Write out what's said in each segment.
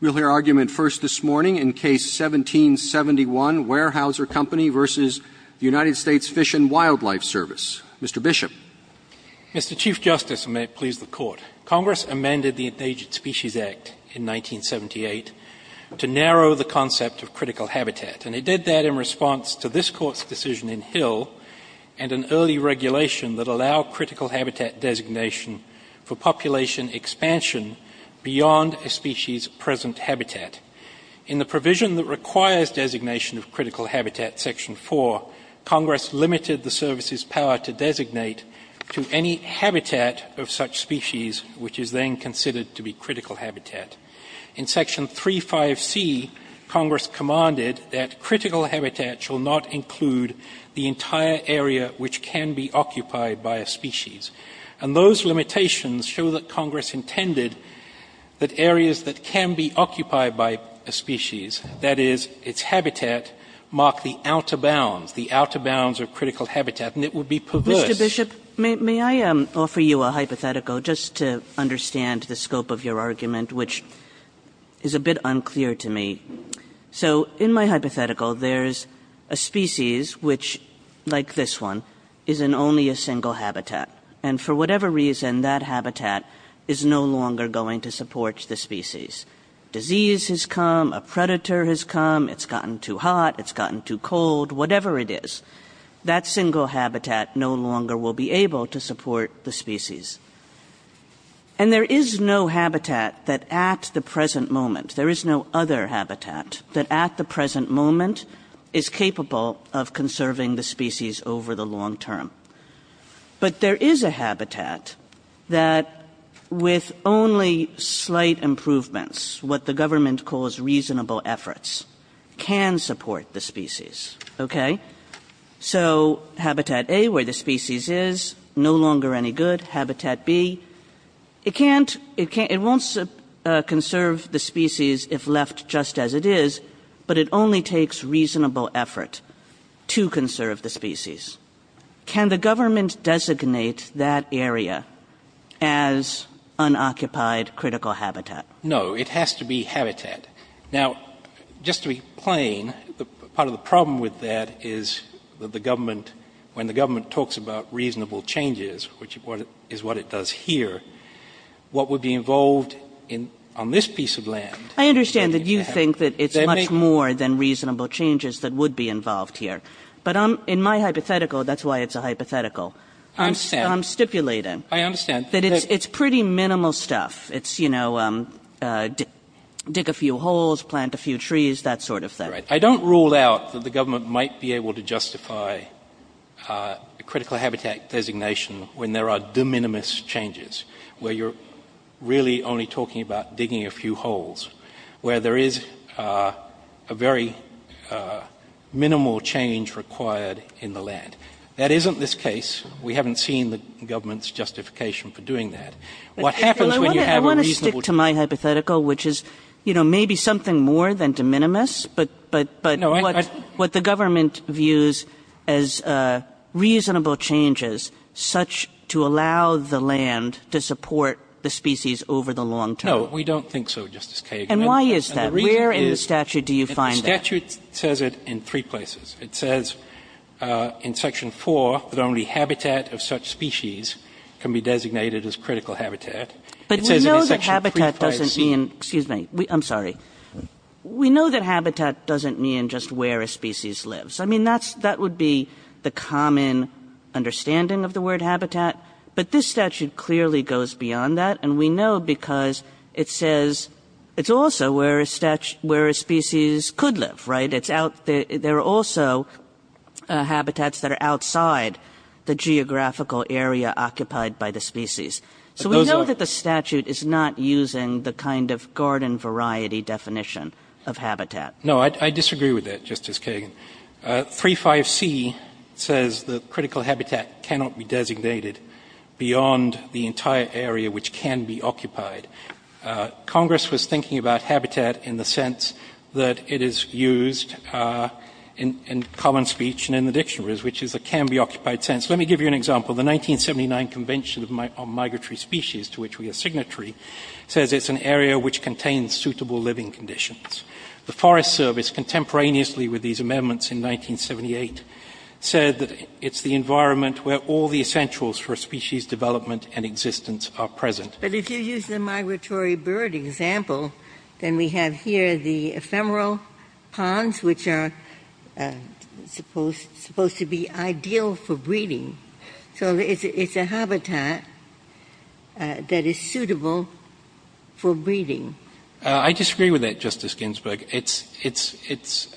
We'll hear argument first this morning in Case 1771, Weyerhaeuser Company v. United States Fish and Wildlife Service. Mr. Bishop. Mr. Chief Justice, and may it please the Court, Congress amended the Endangered Species Act in 1978 to narrow the concept of critical habitat. And it did that in response to this Court's decision in Hill and an early regulation that allowed critical habitat designation for population expansion beyond a species present habitat. In the provision that requires designation of critical habitat, Section 4, Congress limited the service's power to designate to any habitat of such species which is then considered to be critical habitat. In Section 3.5c, Congress commanded that critical habitat shall not include the entire area which can be occupied by a species. And those limitations show that Congress intended that areas that can be occupied by a species, that is, its habitat, mark the outer bounds, the outer bounds of critical habitat, and it would be perverse. Mr. Bishop, may I offer you a hypothetical just to understand the scope of your argument, which is a bit unclear to me. So in my hypothetical, there's a species which, like this one, is in only a single habitat. And for whatever reason, that habitat is no longer going to support the species. Disease has come, a predator has come, it's gotten too hot, it's gotten too cold, whatever it is, that single habitat no longer will be able to support the species. And there is no habitat that at the present moment, there is no other habitat that at the present moment is capable of conserving the species over the long term. But there is a habitat that with only slight improvements, what the government calls reasonable efforts, can support the species. Okay? So Habitat A, where the species is, no longer any good. Habitat B, it can't, it won't conserve the species if left just as it is, but it only takes reasonable effort to conserve the species. Can the government designate that area as unoccupied critical habitat? No. It has to be habitat. Now, just to be plain, part of the problem with that is that the government, when the government talks about reasonable changes, which is what it does here, what would be involved on this piece of land? I understand that you think that it's much more than reasonable changes that would be involved here. But in my hypothetical, that's why it's a hypothetical. I understand. I'm stipulating. I understand. That it's pretty minimal stuff. It's, you know, dig a few holes, plant a few trees, that sort of thing. I don't rule out that the government might be able to justify a critical habitat designation when there are de minimis changes, where you're really only talking about digging a few holes, where there is a very minimal change required in the land. That isn't this case. We haven't seen the government's justification for doing that. What happens when you have a reasonable... I want to stick to my hypothetical, which is, you know, maybe something more than de minimis, but what the government views as reasonable changes such to allow the land to support the species over the long term. No, we don't think so, Justice Kagan. And why is that? Where in the statute do you find that? The statute says it in three places. It says in Section 4 that only habitat of such species can be designated as critical habitat. But we know that habitat doesn't mean, excuse me, I'm sorry. We know that habitat doesn't mean just where a species lives. I mean, that would be the common understanding of the word habitat. But this statute clearly goes beyond that. And we know because it says it's also where a species could live, right? There are also habitats that are outside the geographical area occupied by the species. So we know that the statute is not using the kind of garden variety definition of habitat. No, I disagree with that, Justice Kagan. 3.5c says that critical habitat cannot be designated beyond the entire area which can be occupied. Congress was thinking about habitat in the sense that it is used in common speech and in the dictionaries, which is a can-be-occupied sense. Let me give you an example. The 1979 Convention on Migratory Species, to which we are signatory, says it's an area which contains suitable living conditions. The Forest Service contemporaneously with these amendments in 1978 said that it's the environment where all the essentials for species development and existence are present. But if you use the migratory bird example, then we have here the ephemeral frog ponds, which are supposed to be ideal for breeding. So it's a habitat that is suitable for breeding. I disagree with that, Justice Ginsburg. It's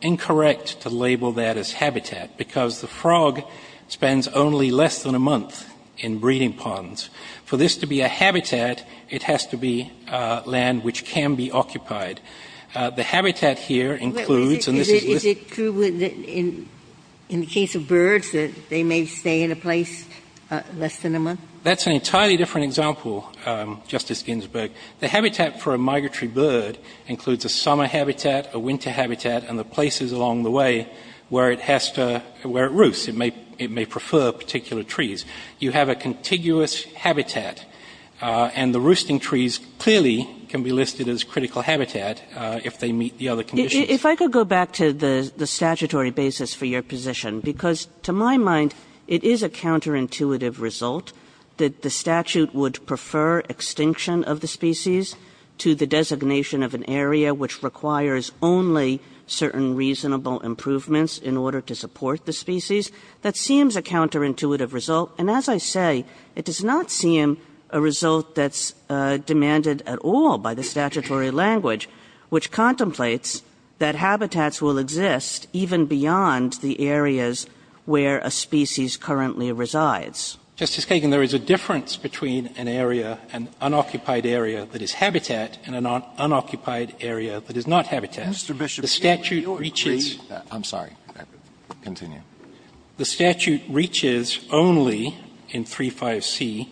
incorrect to label that as habitat, because the frog spends only less than a month in breeding ponds. For this to be a habitat, it has to be land which can be occupied. The habitat here includes, and this is listed. Ginsburg. Is it true in the case of birds that they may stay in a place less than a month? That's an entirely different example, Justice Ginsburg. The habitat for a migratory bird includes a summer habitat, a winter habitat, and the places along the way where it has to, where it roosts. It may prefer particular trees. You have a contiguous habitat, and the roosting trees clearly can be listed as critical habitat if they meet the other conditions. If I could go back to the statutory basis for your position, because to my mind, it is a counterintuitive result that the statute would prefer extinction of the species to the designation of an area which requires only certain reasonable improvements in order to support the species. That seems a counterintuitive result, and as I say, it does not seem a result that's in the language, which contemplates that habitats will exist even beyond the areas where a species currently resides. Justice Kagan, there is a difference between an area, an unoccupied area that is habitat and an unoccupied area that is not habitat. Mr. Bishop, can you repeat that? I'm sorry. Continue. The statute reaches only in 3.5c,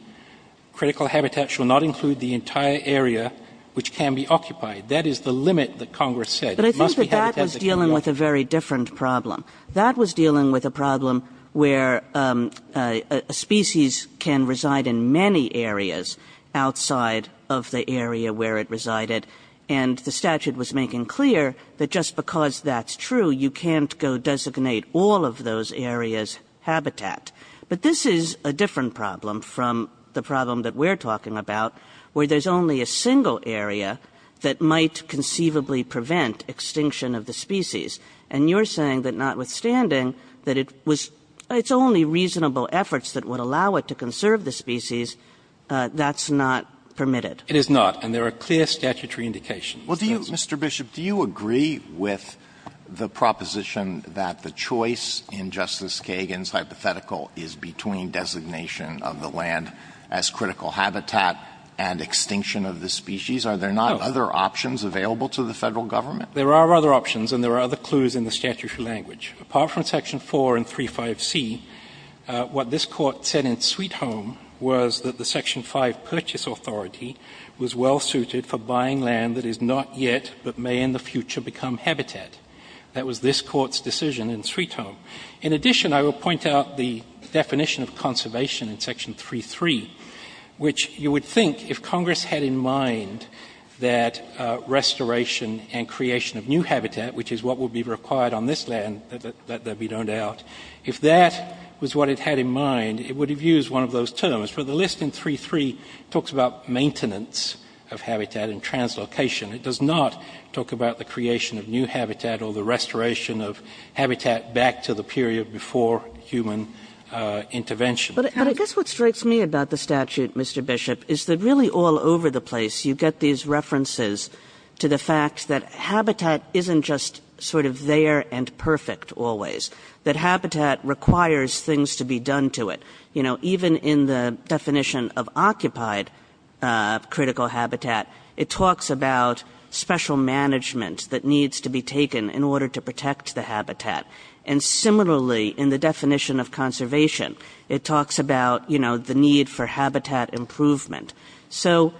critical habitat shall not include the entire area which can be occupied. That is the limit that Congress said. But I think that that was dealing with a very different problem. That was dealing with a problem where a species can reside in many areas outside of the area where it resided, and the statute was making clear that just because that's true, you can't go designate all of those areas habitat. But this is a different problem from the problem that we're talking about, where there's only a single area that might conceivably prevent extinction of the species. And you're saying that notwithstanding that it was – it's only reasonable efforts that would allow it to conserve the species, that's not permitted. It is not. And there are clear statutory indications. Well, do you – Mr. Bishop, do you agree with the proposition that the choice in Justice Kagan's hypothetical is between designation of the land as critical habitat and extinction of the species? Are there not other options available to the Federal Government? There are other options, and there are other clues in the statutory language. Apart from Section 4 and 3.5c, what this Court said in Sweet Home was that the Section 5 purchase authority was well suited for buying land that is not yet but may in the future become habitat. That was this Court's decision in Sweet Home. In addition, I will point out the definition of conservation in Section 3.3, which you would think if Congress had in mind that restoration and creation of new habitat, which is what would be required on this land, that that would be known out. If that was what it had in mind, it would have used one of those terms. But the list in 3.3 talks about maintenance of habitat and translocation. It does not talk about the creation of new habitat or the restoration of habitat back to the period before human intervention. But I guess what strikes me about the statute, Mr. Bishop, is that really all over the place you get these references to the fact that habitat isn't just sort of there and perfect always. That habitat requires things to be done to it. You know, even in the definition of occupied critical habitat, it talks about habitat. And similarly, in the definition of conservation, it talks about, you know, the need for habitat improvement. So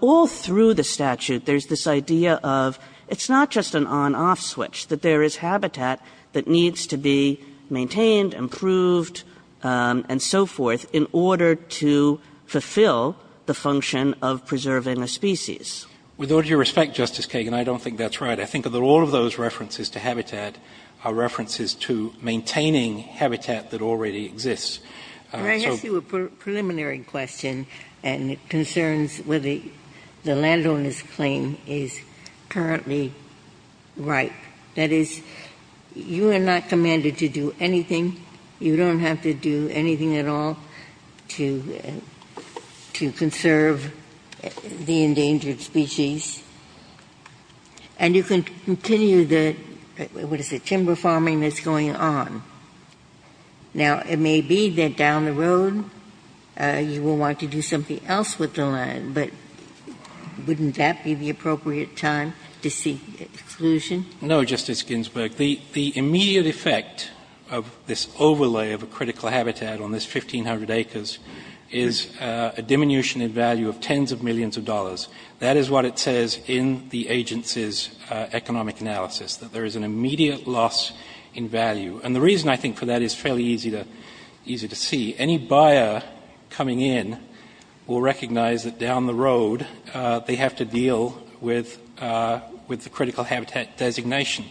all through the statute, there's this idea of it's not just an on-off switch, that there is habitat that needs to be maintained, improved, and so forth in order to fulfill the function of preserving a species. With all due respect, Justice Kagan, I don't think that's right. I think that all of those references to habitat are references to maintaining habitat that already exists. And I guess you were preliminary question and concerns with the landowner's claim is currently right. That is, you are not commanded to do anything. You don't have to do anything at all to conserve the endangered species. And you can continue the, what is it, timber farming that's going on. Now, it may be that down the road you will want to do something else with the land, but wouldn't that be the appropriate time to seek exclusion? No, Justice Ginsburg. The immediate effect of this overlay of a critical habitat on this 1,500 acres is a diminution in value of tens of millions of dollars. That is what it says in the agency's economic analysis, that there is an immediate loss in value. And the reason, I think, for that is fairly easy to see. Any buyer coming in will recognize that down the road they have to deal with the critical habitat designation.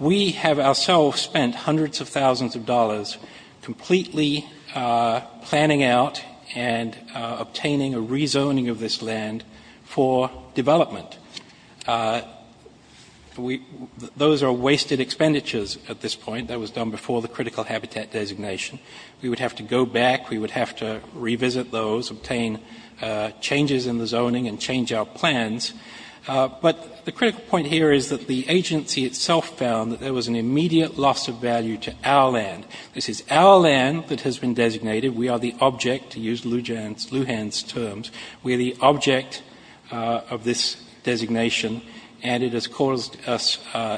We have ourselves spent hundreds of thousands of dollars completely planning out and obtaining a rezoning of this land for development. Those are wasted expenditures at this point. That was done before the critical habitat designation. We would have to go back. We would have to revisit those, obtain changes in the zoning, and change our plans. But the critical point here is that the agency itself found that there was an immediate loss of value to our land. This is our land that has been designated. We are the object, to use Lujan's terms, we are the object of this designation and it has caused us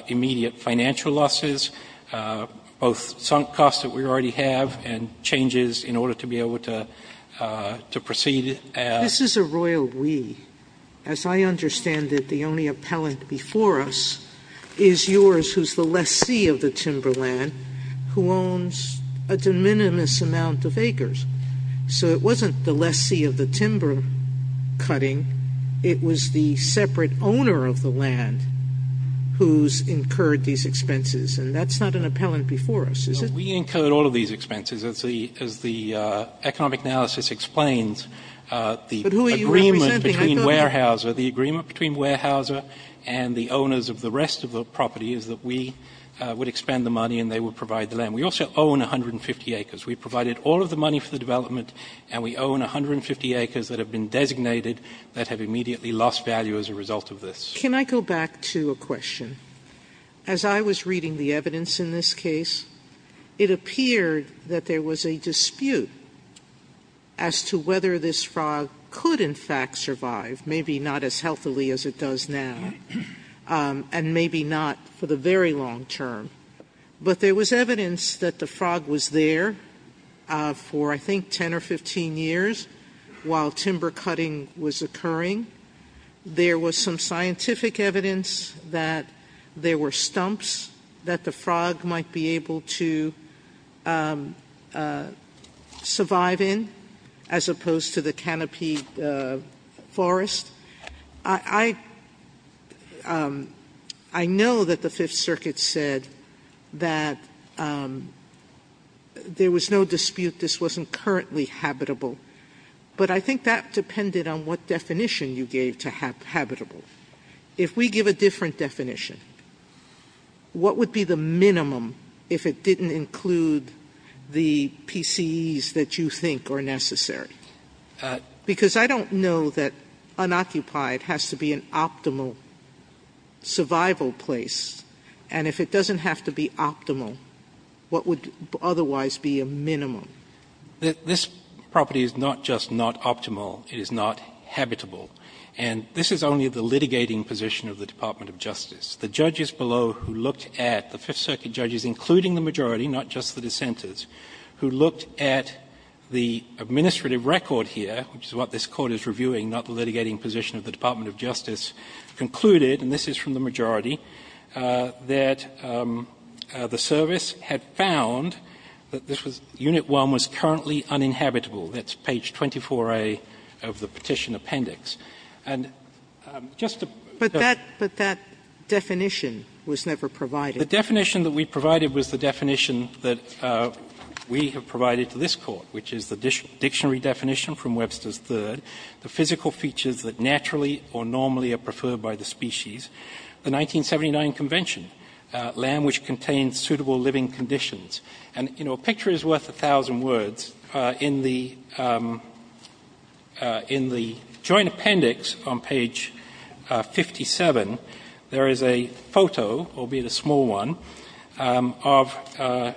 immediate financial losses, both sunk costs that we already have and changes in order to be able to proceed. Sotomayor, this is a royal we. As I understand it, the only appellant before us is yours who is the lessee of the acres. So it wasn't the lessee of the timber cutting. It was the separate owner of the land who has incurred these expenses. And that's not an appellant before us, is it? We incurred all of these expenses. As the economic analysis explains, the agreement between Weyerhaeuser, the agreement between Weyerhaeuser and the owners of the rest of the property is that we would expend the money and they would provide the land. We also own 150 acres. We provided all of the money for the development and we own 150 acres that have been designated that have immediately lost value as a result of this. Can I go back to a question? As I was reading the evidence in this case, it appeared that there was a dispute as to whether this frog could in fact survive, maybe not as healthily as it does now, and maybe not for the very long term. But there was evidence that the frog was there for I think 10 or 15 years while timber cutting was occurring. There was some scientific evidence that there were stumps that the frog might be able to survive in as opposed to the canopy forest. I know that the Fifth Circuit said that there was no dispute this wasn't currently habitable, but I think that depended on what definition you gave to habitable. If we give a different definition, what would be the minimum if it didn't include the PCEs that you think are necessary? Because I don't know that unoccupied has to be an optimal survival place, and if it doesn't have to be optimal, what would otherwise be a minimum? This property is not just not optimal, it is not habitable. And this is only the litigating position of the Department of Justice. The judges below who looked at the Fifth Circuit judges, including the majority, not just the dissenters, who looked at the administrative record here, which is what this Court is reviewing, not the litigating position of the Department of Justice, concluded, and this is from the majority, that the service had found that this was unit 1 was currently uninhabitable. That's page 24A of the petition appendix. And just to ---- But that definition was never provided. The definition that we provided was the definition that we have provided to this Court, which is the dictionary definition from Webster's third, the physical features that naturally or normally are preferred by the species, the 1979 convention, land which contains suitable living conditions. And, you know, a picture is worth 1,000 words. In the joint appendix on page 57, there is a photo, albeit a small one, of the land of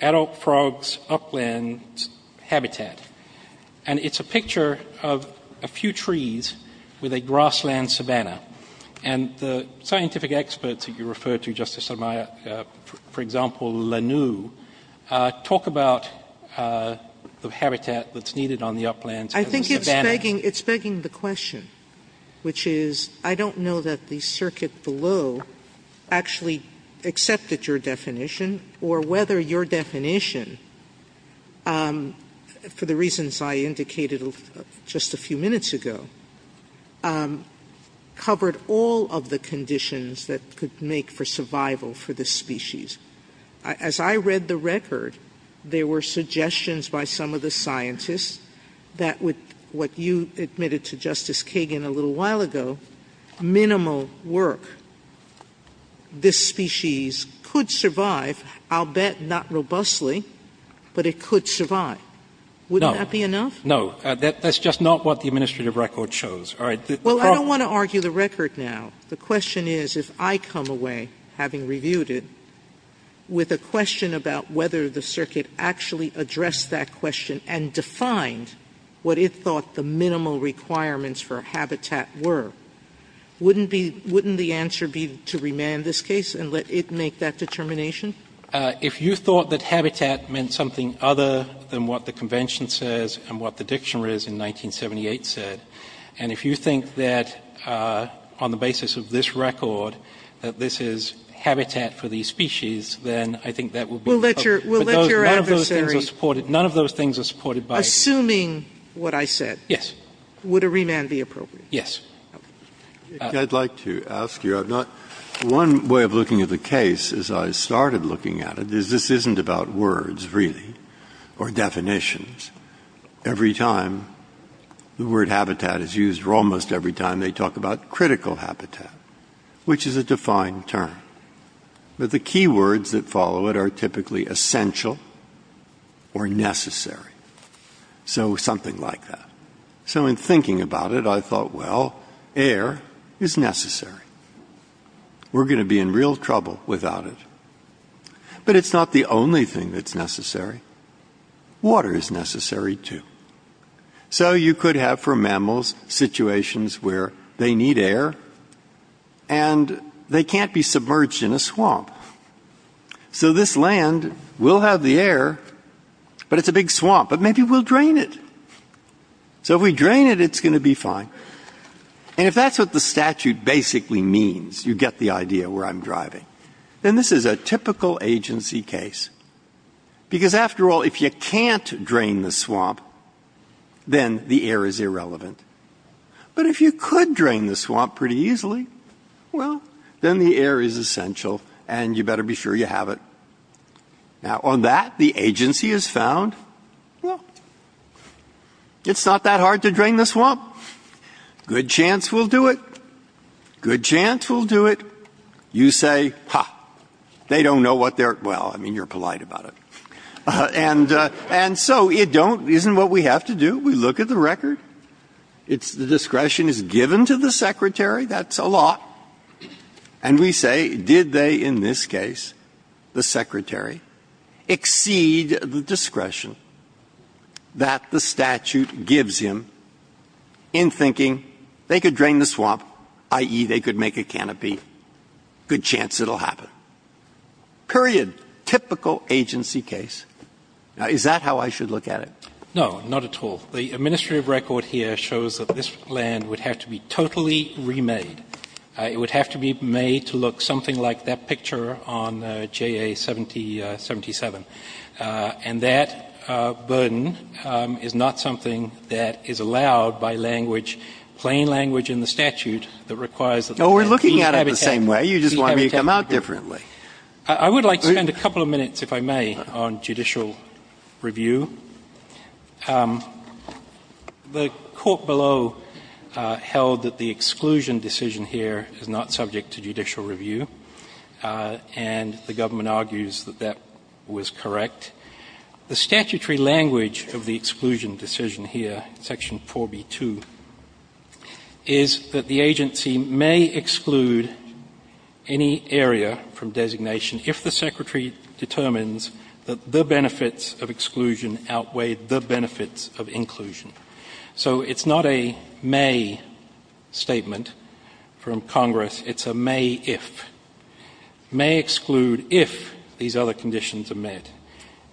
adult frogs upland habitat. And it's a picture of a few trees with a grassland savanna. And the scientific experts that you refer to, Justice Sotomayor, for example, Lanoue, talk about the habitat that's needed on the uplands as a savanna. I think it's begging the question, which is, I don't know that the circuit below actually accepted your definition or whether your definition, for the reasons I indicated just a few minutes ago, covered all of the conditions that could make for survival for this species. As I read the record, there were suggestions by some of the scientists that would make what you admitted to Justice Kagan a little while ago minimal work. This species could survive, I'll bet not robustly, but it could survive. Wouldn't that be enough? No. No. That's just not what the administrative record shows. All right. Well, I don't want to argue the record now. The question is, if I come away, having reviewed it, with a question about whether the circuit actually addressed that question and defined what it thought the minimal requirements for habitat were, wouldn't the answer be to remand this case and let it make that determination? If you thought that habitat meant something other than what the convention says and what the dictionary in 1978 said, and if you think that on the basis of this record that this is habitat for the species, then I think that will be... We'll let your adversary... None of those things are supported. None of those things are supported by... Assuming what I said. Yes. Would a remand be appropriate? Yes. Okay. I'd like to ask you. I've not... One way of looking at the case, as I started looking at it, is this isn't about words, really, or definitions. Every time the word habitat is used, or almost every time they talk about critical habitat, which is a defined term. But the key words that follow it are typically essential or necessary. So, something like that. So, in thinking about it, I thought, well, air is necessary. We're going to be in real trouble without it. But it's not the only thing that's necessary. Water is necessary, too. So, you could have, for mammals, situations where they need air and they can't be submerged in a swamp. So, this land will have the air, but it's a big swamp. But maybe we'll drain it. So, if we drain it, it's going to be fine. And if that's what the statute basically means, you get the idea where I'm driving, then this is a typical agency case. Because, after all, if you can't drain the swamp, then the air is irrelevant. But if you could drain the swamp pretty easily, well, then the air is essential, and you better be sure you have it. Now, on that, the agency has found, well, it's not that hard to drain the swamp. Good chance we'll do it. Good chance we'll do it. You say, ha, they don't know what they're, well, I mean, you're polite about it. And so, you don't, isn't what we have to do? We look at the record. It's, the discretion is given to the secretary. That's a lot. And we say, did they, in this case, the secretary, exceed the discretion that the statute gives him in thinking they could drain the swamp, i.e., they could make a canopy? Good chance it'll happen. Period. Typical agency case. Now, is that how I should look at it? No, not at all. The administrative record here shows that this land would have to be totally remade. It would have to be made to look something like that picture on JA-77. And that burden is not something that is allowed by language, plain language in the statute that requires that the land be habitatted. Oh, we're looking at it the same way. You just want me to come out differently. I would like to spend a couple of minutes, if I may, on judicial review. The court below held that the exclusion decision here is not subject to judicial review. It was correct. The statutory language of the exclusion decision here, Section 4B-2, is that the agency may exclude any area from designation if the secretary determines that the benefits of exclusion outweigh the benefits of inclusion. So it's not a may statement from Congress. It's a may if. May exclude if these other conditions are met.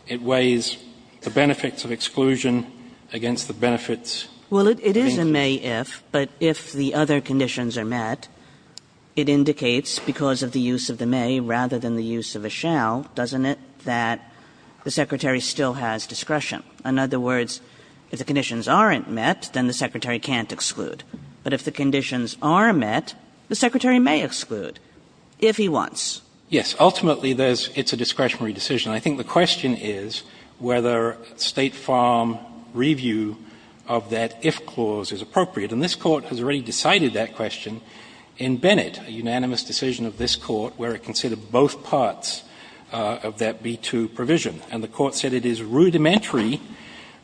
It weighs the benefits of exclusion against the benefits of inclusion. Well, it is a may if, but if the other conditions are met, it indicates, because of the use of the may rather than the use of a shall, doesn't it, that the secretary still has discretion? In other words, if the conditions aren't met, then the secretary can't exclude. But if the conditions are met, the secretary may exclude. If he wants. Yes. Ultimately, it's a discretionary decision. I think the question is whether State Farm review of that if clause is appropriate. And this Court has already decided that question in Bennett, a unanimous decision of this Court, where it considered both parts of that B-2 provision. And the Court said it is rudimentary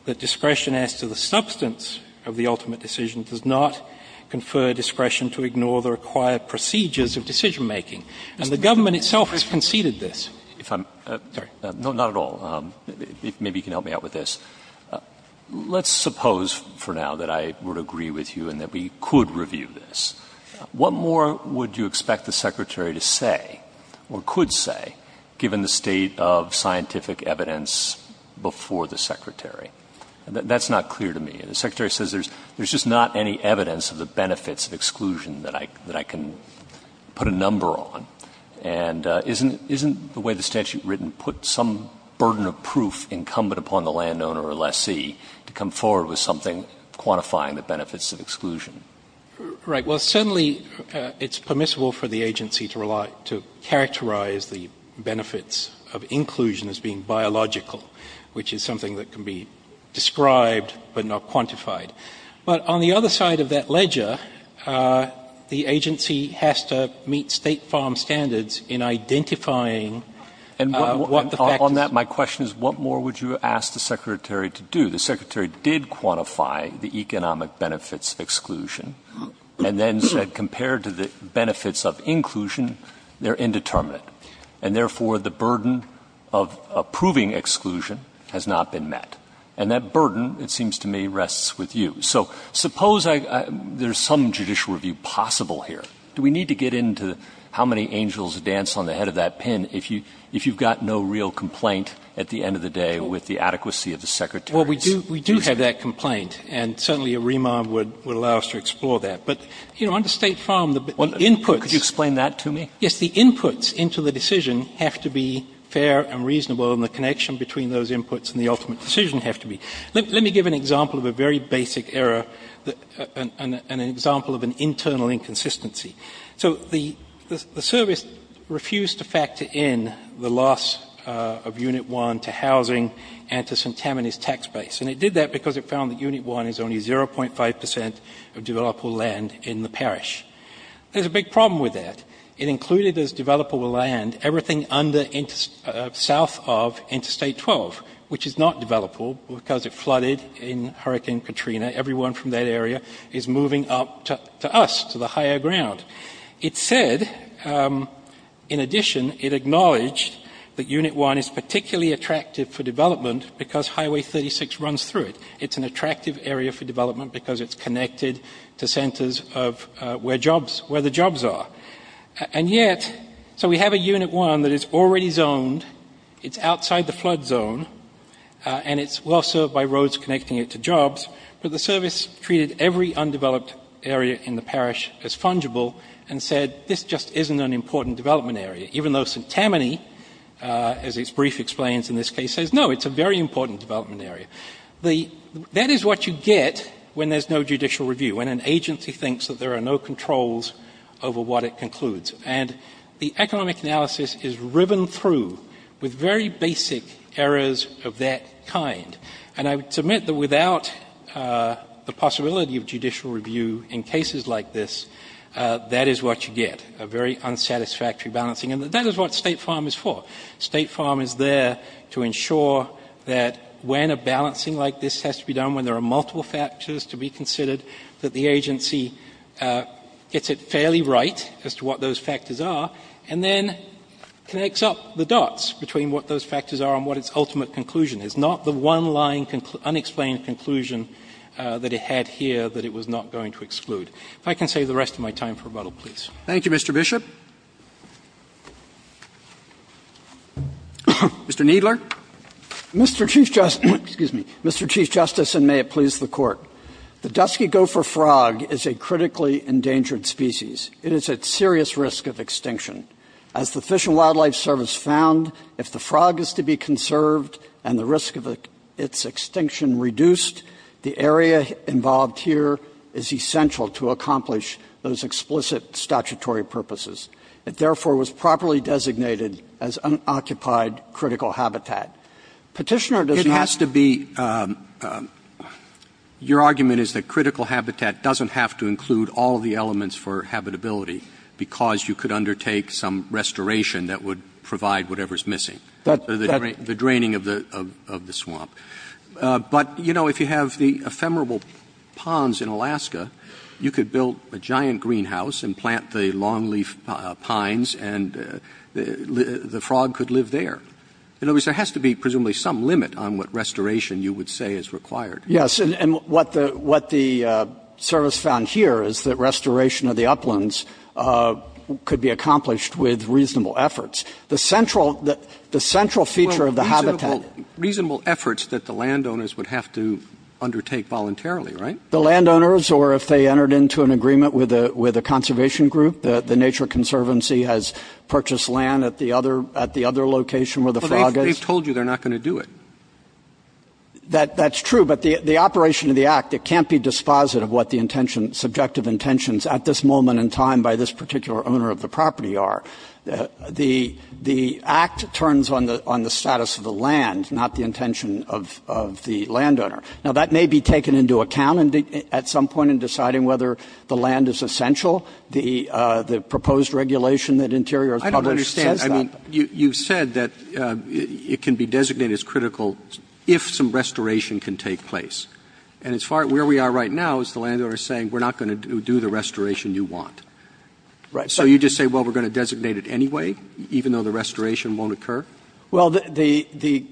that discretion as to the substance of the ultimate decision making. And the government itself has conceded this. If I'm. Sorry. No, not at all. Maybe you can help me out with this. Let's suppose for now that I would agree with you and that we could review this. What more would you expect the secretary to say or could say, given the state of scientific evidence before the secretary? That's not clear to me. The secretary says there's just not any evidence of the benefits of exclusion that I can put a number on. And isn't the way the statute's written, put some burden of proof incumbent upon the landowner or lessee to come forward with something quantifying the benefits of exclusion? Right. Well, certainly it's permissible for the agency to characterize the benefits of inclusion as being biological, which is something that can be described but not quantified. But on the other side of that ledger, the agency has to meet state farm standards in identifying what the facts. On that, my question is what more would you ask the secretary to do? The secretary did quantify the economic benefits of exclusion and then said compared to the benefits of inclusion, they're indeterminate. And therefore, the burden of approving exclusion has not been met. And that burden, it seems to me, rests with you. So suppose there's some judicial review possible here. Do we need to get into how many angels dance on the head of that pin if you've got no real complaint at the end of the day with the adequacy of the secretary's statement? Well, we do have that complaint. And certainly a remand would allow us to explore that. But, you know, on the state farm, the inputs. Could you explain that to me? Yes. The inputs into the decision have to be fair and reasonable. And the connection between those inputs and the ultimate decision have to be. Let me give an example of a very basic error, an example of an internal inconsistency. So the service refused to factor in the loss of Unit 1 to housing and to St. Tammany's tax base. And it did that because it found that Unit 1 is only 0.5 percent of developable land in the parish. There's a big problem with that. It included as developable land everything south of Interstate 12, which is not developable because it flooded in Hurricane Katrina. Everyone from that area is moving up to us, to the higher ground. It said, in addition, it acknowledged that Unit 1 is particularly attractive for development because Highway 36 runs through it. It's an attractive area for development because it's connected to centers where the jobs are. And yet, so we have a Unit 1 that is already zoned, it's outside the flood zone, and it's well served by roads connecting it to jobs. But the service treated every undeveloped area in the parish as fungible and said, this just isn't an important development area. Even though St. Tammany, as its brief explains in this case, says, no, it's a very important development area. That is what you get when there's no judicial review, when an agency thinks that there are no controls over what it concludes. And the economic analysis is riven through with very basic errors of that kind. And I submit that without the possibility of judicial review in cases like this, that is what you get, a very unsatisfactory balancing. And that is what State Farm is for. State Farm is there to ensure that when a balancing like this has to be done, when there are multiple factors to be considered, that the agency gets it fairly right as to what those factors are, and then connects up the dots between what those factors are and what its ultimate conclusion is. Not the one-line, unexplained conclusion that it had here that it was not going to exclude. If I can save the rest of my time for rebuttal, please. Roberts. Thank you, Mr. Bishop. Mr. Kneedler. Mr. Chief Justice, excuse me. Mr. Chief Justice, and may it please the Court. The dusky gopher frog is a critically endangered species. It is at serious risk of extinction. As the Fish and Wildlife Service found, if the frog is to be conserved and the risk of its extinction reduced, the area involved here is essential to accomplish those explicit statutory purposes. It therefore was properly designated as unoccupied critical habitat. Petitioner does not. It has to be. Your argument is that critical habitat doesn't have to include all of the elements for habitability because you could undertake some restoration that would provide whatever is missing, the draining of the swamp. But, you know, if you have the ephemeral ponds in Alaska, you could build a giant greenhouse and plant the longleaf pines and the frog could live there. In other words, there has to be presumably some limit on what restoration you would say is required. Yes, and what the service found here is that restoration of the uplands could be accomplished with reasonable efforts. The central feature of the habitat Well, reasonable efforts that the landowners would have to undertake voluntarily, right? The landowners, or if they entered into an agreement with a conservation group, the Nature Conservancy has purchased land at the other location where the frog is. Well, they've told you they're not going to do it. That's true, but the operation of the Act, it can't be dispositive of what the subjective intentions at this moment in time by this particular owner of the property are. The Act turns on the status of the land, not the intention of the landowner. Now, that may be taken into account at some point in deciding whether the land is essential. The proposed regulation that Interior is published says that. I don't understand. I mean, you said that it can be designated as critical if some restoration can take place. And as far as where we are right now is the landowner saying we're not going to do the restoration you want. Right. So you just say, well, we're going to designate it anyway, even though the restoration won't occur? Well, the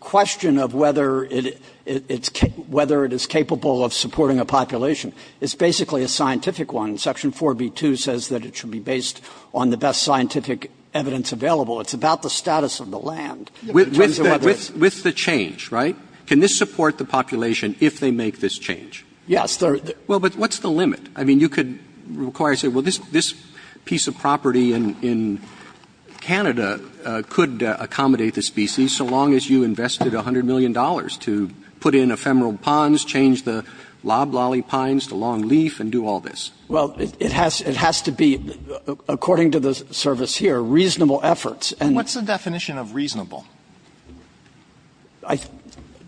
question of whether it is capable of supporting a population is basically a scientific one. Section 4B2 says that it should be based on the best scientific evidence available. It's about the status of the land. With the change, right? Can this support the population if they make this change? Yes. Well, but what's the limit? I mean, you could require, say, well, this piece of property in Canada could accommodate the species so long as you invested $100 million to put in ephemeral ponds, change the loblolly pines, the long leaf, and do all this. Well, it has to be, according to the service here, reasonable efforts. What's the definition of reasonable?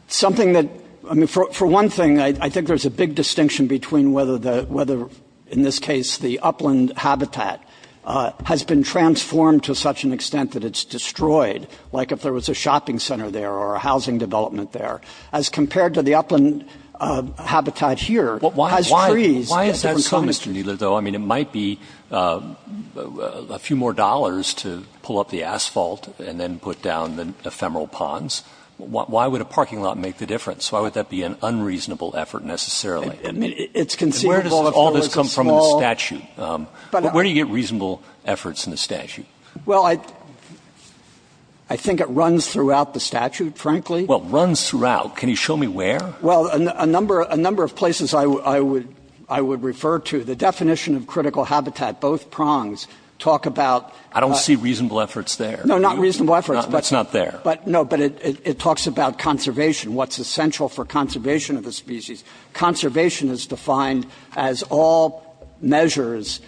Something that, I mean, for one thing, I think there's a big distinction between whether, in this case, the upland habitat has been transformed to such an extent that it's destroyed, like if there was a shopping center there or a housing development there. As compared to the upland habitat here, it has trees. Why is that so, Mr. Kneedler, though? I mean, it might be a few more dollars to pull up the asphalt and then put down the ephemeral ponds. Why would a parking lot make the difference? Why would that be an unreasonable effort, necessarily? It's conceivable if it was a small. Where does all this come from in the statute? Where do you get reasonable efforts in the statute? Well, I think it runs throughout the statute, frankly. Well, runs throughout. Can you show me where? Well, a number of places I would refer to. The definition of critical habitat, both prongs, talk about – I don't see reasonable efforts there. No, not reasonable efforts. It's not there. No, but it talks about conservation, what's essential for conservation of the species. Conservation is defined as all measures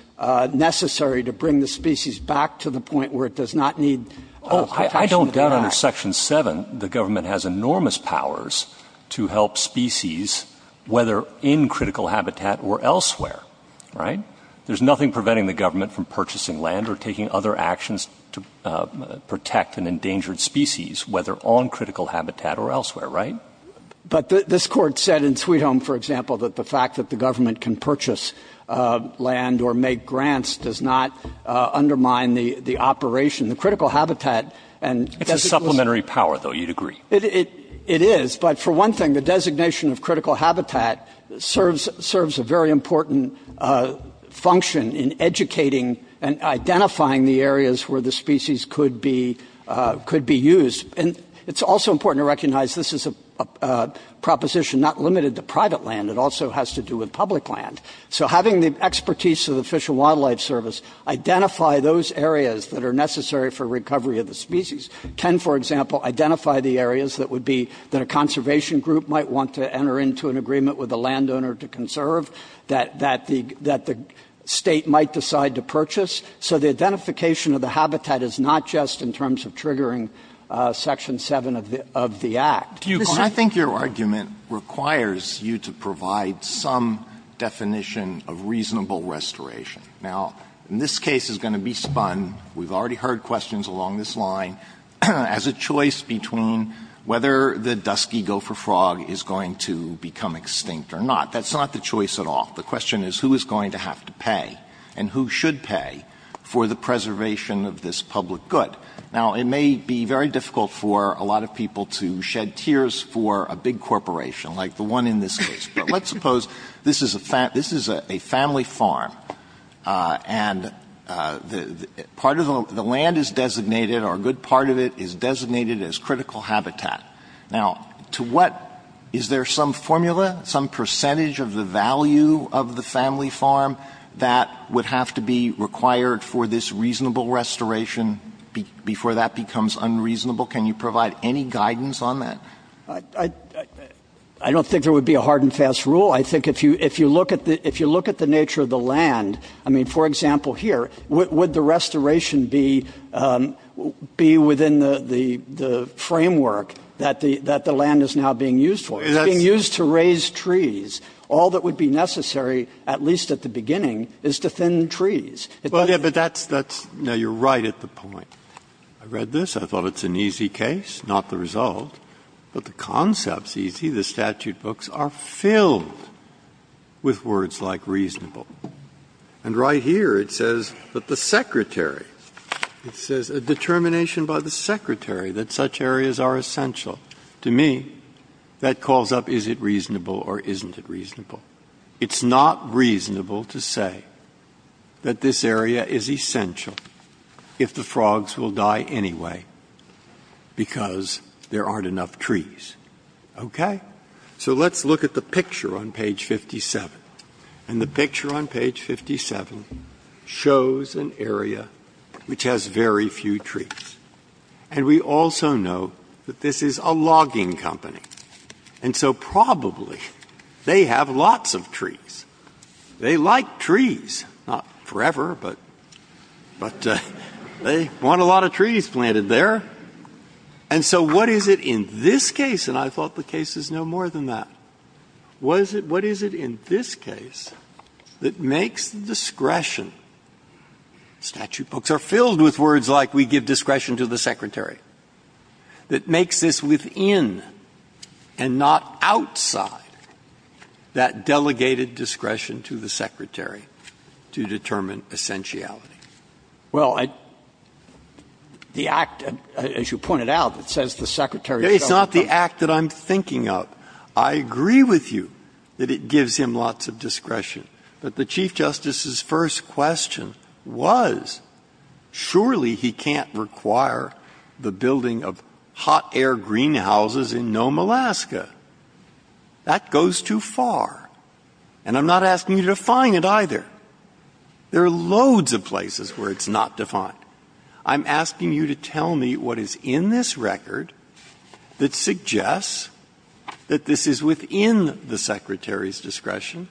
necessary to bring the species back to the point where it does not need protection of the act. Under Section 7, the government has enormous powers to help species, whether in critical habitat or elsewhere, right? There's nothing preventing the government from purchasing land or taking other actions to protect an endangered species, whether on critical habitat or elsewhere, right? But this Court said in Sweet Home, for example, that the fact that the government can purchase land or make grants does not undermine the operation. The critical habitat – It's a supplementary power, though. You'd agree. It is, but for one thing, the designation of critical habitat serves a very important function in educating and identifying the areas where the species could be used. And it's also important to recognize this is a proposition not limited to private land. It also has to do with public land. So having the expertise of the Fish and Wildlife Service identify those areas that are necessary for recovery of the species, can, for example, identify the areas that would be – that a conservation group might want to enter into an agreement with a landowner to conserve, that the State might decide to purchase. So the identification of the habitat is not just in terms of triggering Section 7 of the Act. Do you – I think your argument requires you to provide some definition of reasonable restoration. Now, this case is going to be spun – we've already heard questions along this line – as a choice between whether the dusky gopher frog is going to become extinct or not. That's not the choice at all. The question is who is going to have to pay and who should pay for the preservation of this public good. Now, it may be very difficult for a lot of people to shed tears for a big corporation like the one in this case. But let's suppose this is a family farm and part of the – the land is designated or a good part of it is designated as critical habitat. Now, to what – is there some formula, some percentage of the value of the family farm that would have to be required for this reasonable restoration before that becomes unreasonable? Can you provide any guidance on that? I don't think there would be a hard and fast rule. I think if you look at the nature of the land – I mean, for example, here, would the restoration be within the framework that the land is now being used for? It's being used to raise trees. All that would be necessary, at least at the beginning, is to thin trees. Well, yeah, but that's – no, you're right at the point. I read this. I thought it's an easy case, not the result. But the concept's easy. The statute books are filled with words like reasonable. And right here it says that the Secretary – it says a determination by the Secretary that such areas are essential. To me, that calls up is it reasonable or isn't it reasonable. It's not reasonable to say that this area is essential if the frogs will die anyway because there aren't enough trees. Okay? So let's look at the picture on page 57. And the picture on page 57 shows an area which has very few trees. And we also know that this is a logging company. And so probably they have lots of trees. They like trees. Not forever, but they want a lot of trees planted there. And so what is it in this case – and I thought the case is no more than that – what is it in this case that makes the discretion – statute books are filled with words like we give discretion to the Secretary – that makes this within and not outside that delegated discretion to the Secretary to determine essentiality? Well, I – the act, as you pointed out, it says the Secretary – It's not the act that I'm thinking of. I agree with you that it gives him lots of discretion. But the Chief Justice's first question was surely he can't require the building of hot air greenhouses in Nome, Alaska. That goes too far. And I'm not asking you to define it either. There are loads of places where it's not defined. I'm asking you to tell me what is in this record that suggests that this is within the Secretary's discretion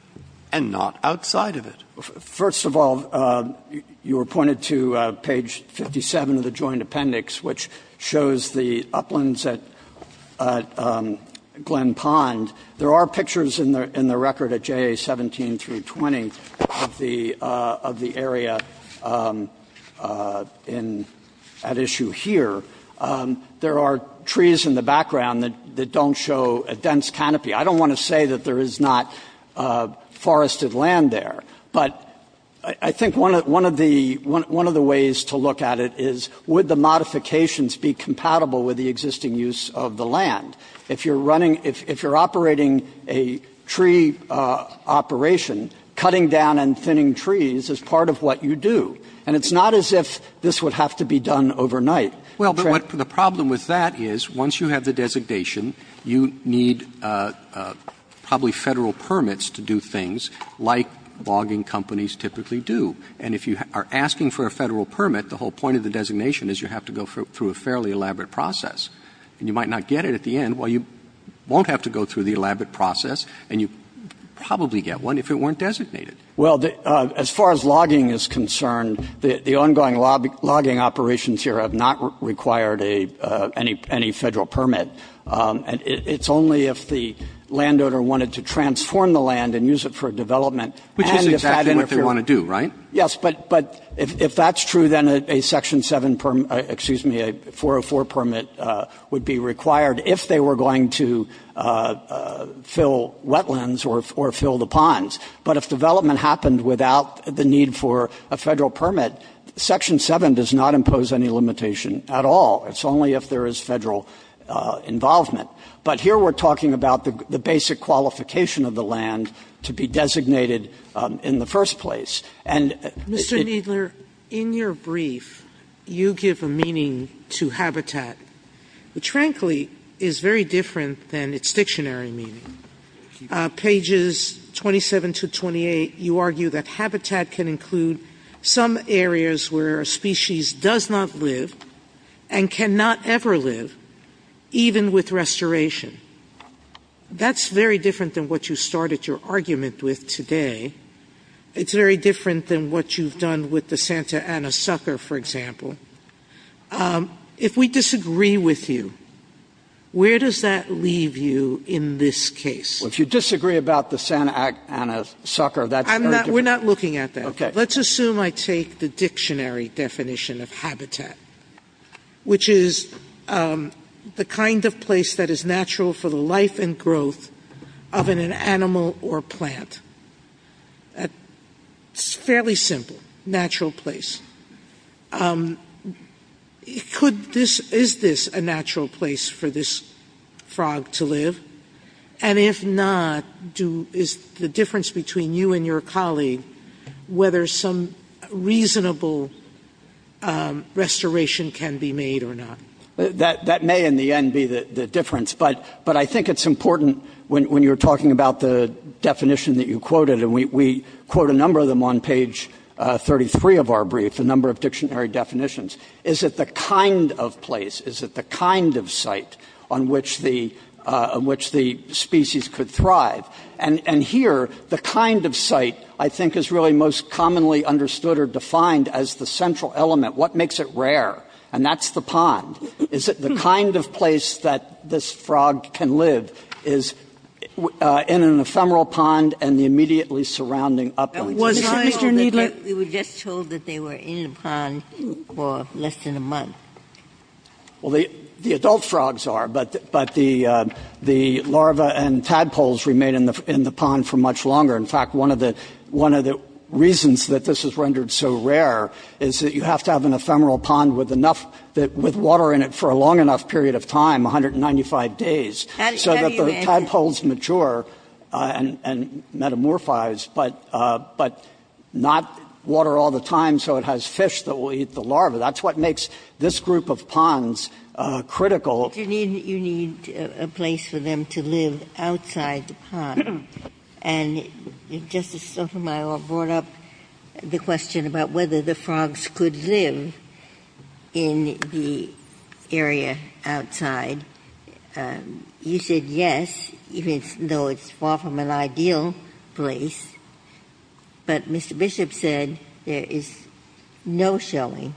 and not outside of it. First of all, you were pointing to page 57 of the Joint Appendix, which shows the uplands at Glen Pond. There are pictures in the record at JA 17 through 20 of the area at issue here. There are trees in the background that don't show a dense canopy. I don't want to say that there is not forested land there. But I think one of the – one of the ways to look at it is would the modifications be compatible with the existing use of the land? If you're running – if you're operating a tree operation, cutting down and thinning trees is part of what you do. And it's not as if this would have to be done overnight. Well, but the problem with that is once you have the designation, you need probably federal permits to do things like logging companies typically do. And if you are asking for a federal permit, the whole point of the designation is you have to go through a fairly elaborate process. And you might not get it at the end. Well, you won't have to go through the elaborate process, and you'd probably get one if it weren't designated. Well, as far as logging is concerned, the ongoing logging operations here have not required any federal permit. It's only if the landowner wanted to transform the land and use it for development and if that interfered. Which is exactly what they want to do, right? Yes. But if that's true, then a Section 7 – excuse me, a 404 permit would be required if they were going to fill wetlands or fill the ponds. But if development happened without the need for a federal permit, Section 7 does not impose any limitation at all. It's only if there is federal involvement. But here we're talking about the basic qualification of the land to be designated in the first place. And if it — Mr. Kneedler, in your brief, you give a meaning to habitat which, frankly, is very different than its dictionary meaning. Thank you. Pages 27 to 28, you argue that habitat can include some areas where a species does not live and cannot ever live, even with restoration. That's very different than what you started your argument with today. It's very different than what you've done with the Santa Ana sucker, for example. If we disagree with you, where does that leave you in this case? Well, if you disagree about the Santa Ana sucker, that's very different. We're not looking at that. Okay. Well, let's assume I take the dictionary definition of habitat, which is the kind of place that is natural for the life and growth of an animal or plant. It's fairly simple. Natural place. Could this — is this a natural place for this frog to live? And if not, is the difference between you and your colleague whether some reasonable restoration can be made or not? That may, in the end, be the difference. But I think it's important, when you're talking about the definition that you quoted — and we quote a number of them on page 33 of our brief, a number of dictionary definitions — is it the kind of place, is it the kind of site on which the species could thrive? And here, the kind of site, I think, is really most commonly understood or defined as the central element. What makes it rare? And that's the pond. Is it the kind of place that this frog can live, is in an ephemeral pond and the immediately surrounding uplands? Was it, Mr. Kneedler? We were just told that they were in the pond for less than a month. Well, the adult frogs are, but the larvae and tadpoles remain in the pond for much longer. In fact, one of the reasons that this is rendered so rare is that you have to have an ephemeral pond with enough — with water in it for a long enough period of time, 195 days. So that the tadpoles mature and metamorphose, but not water all the time, so it has fish that will eat the larvae. That's what makes this group of ponds critical. But you need a place for them to live outside the pond. And Justice Sotomayor brought up the question about whether the frogs could live in the area outside. You said yes, even though it's far from an ideal place. But Mr. Bishop said there is no showing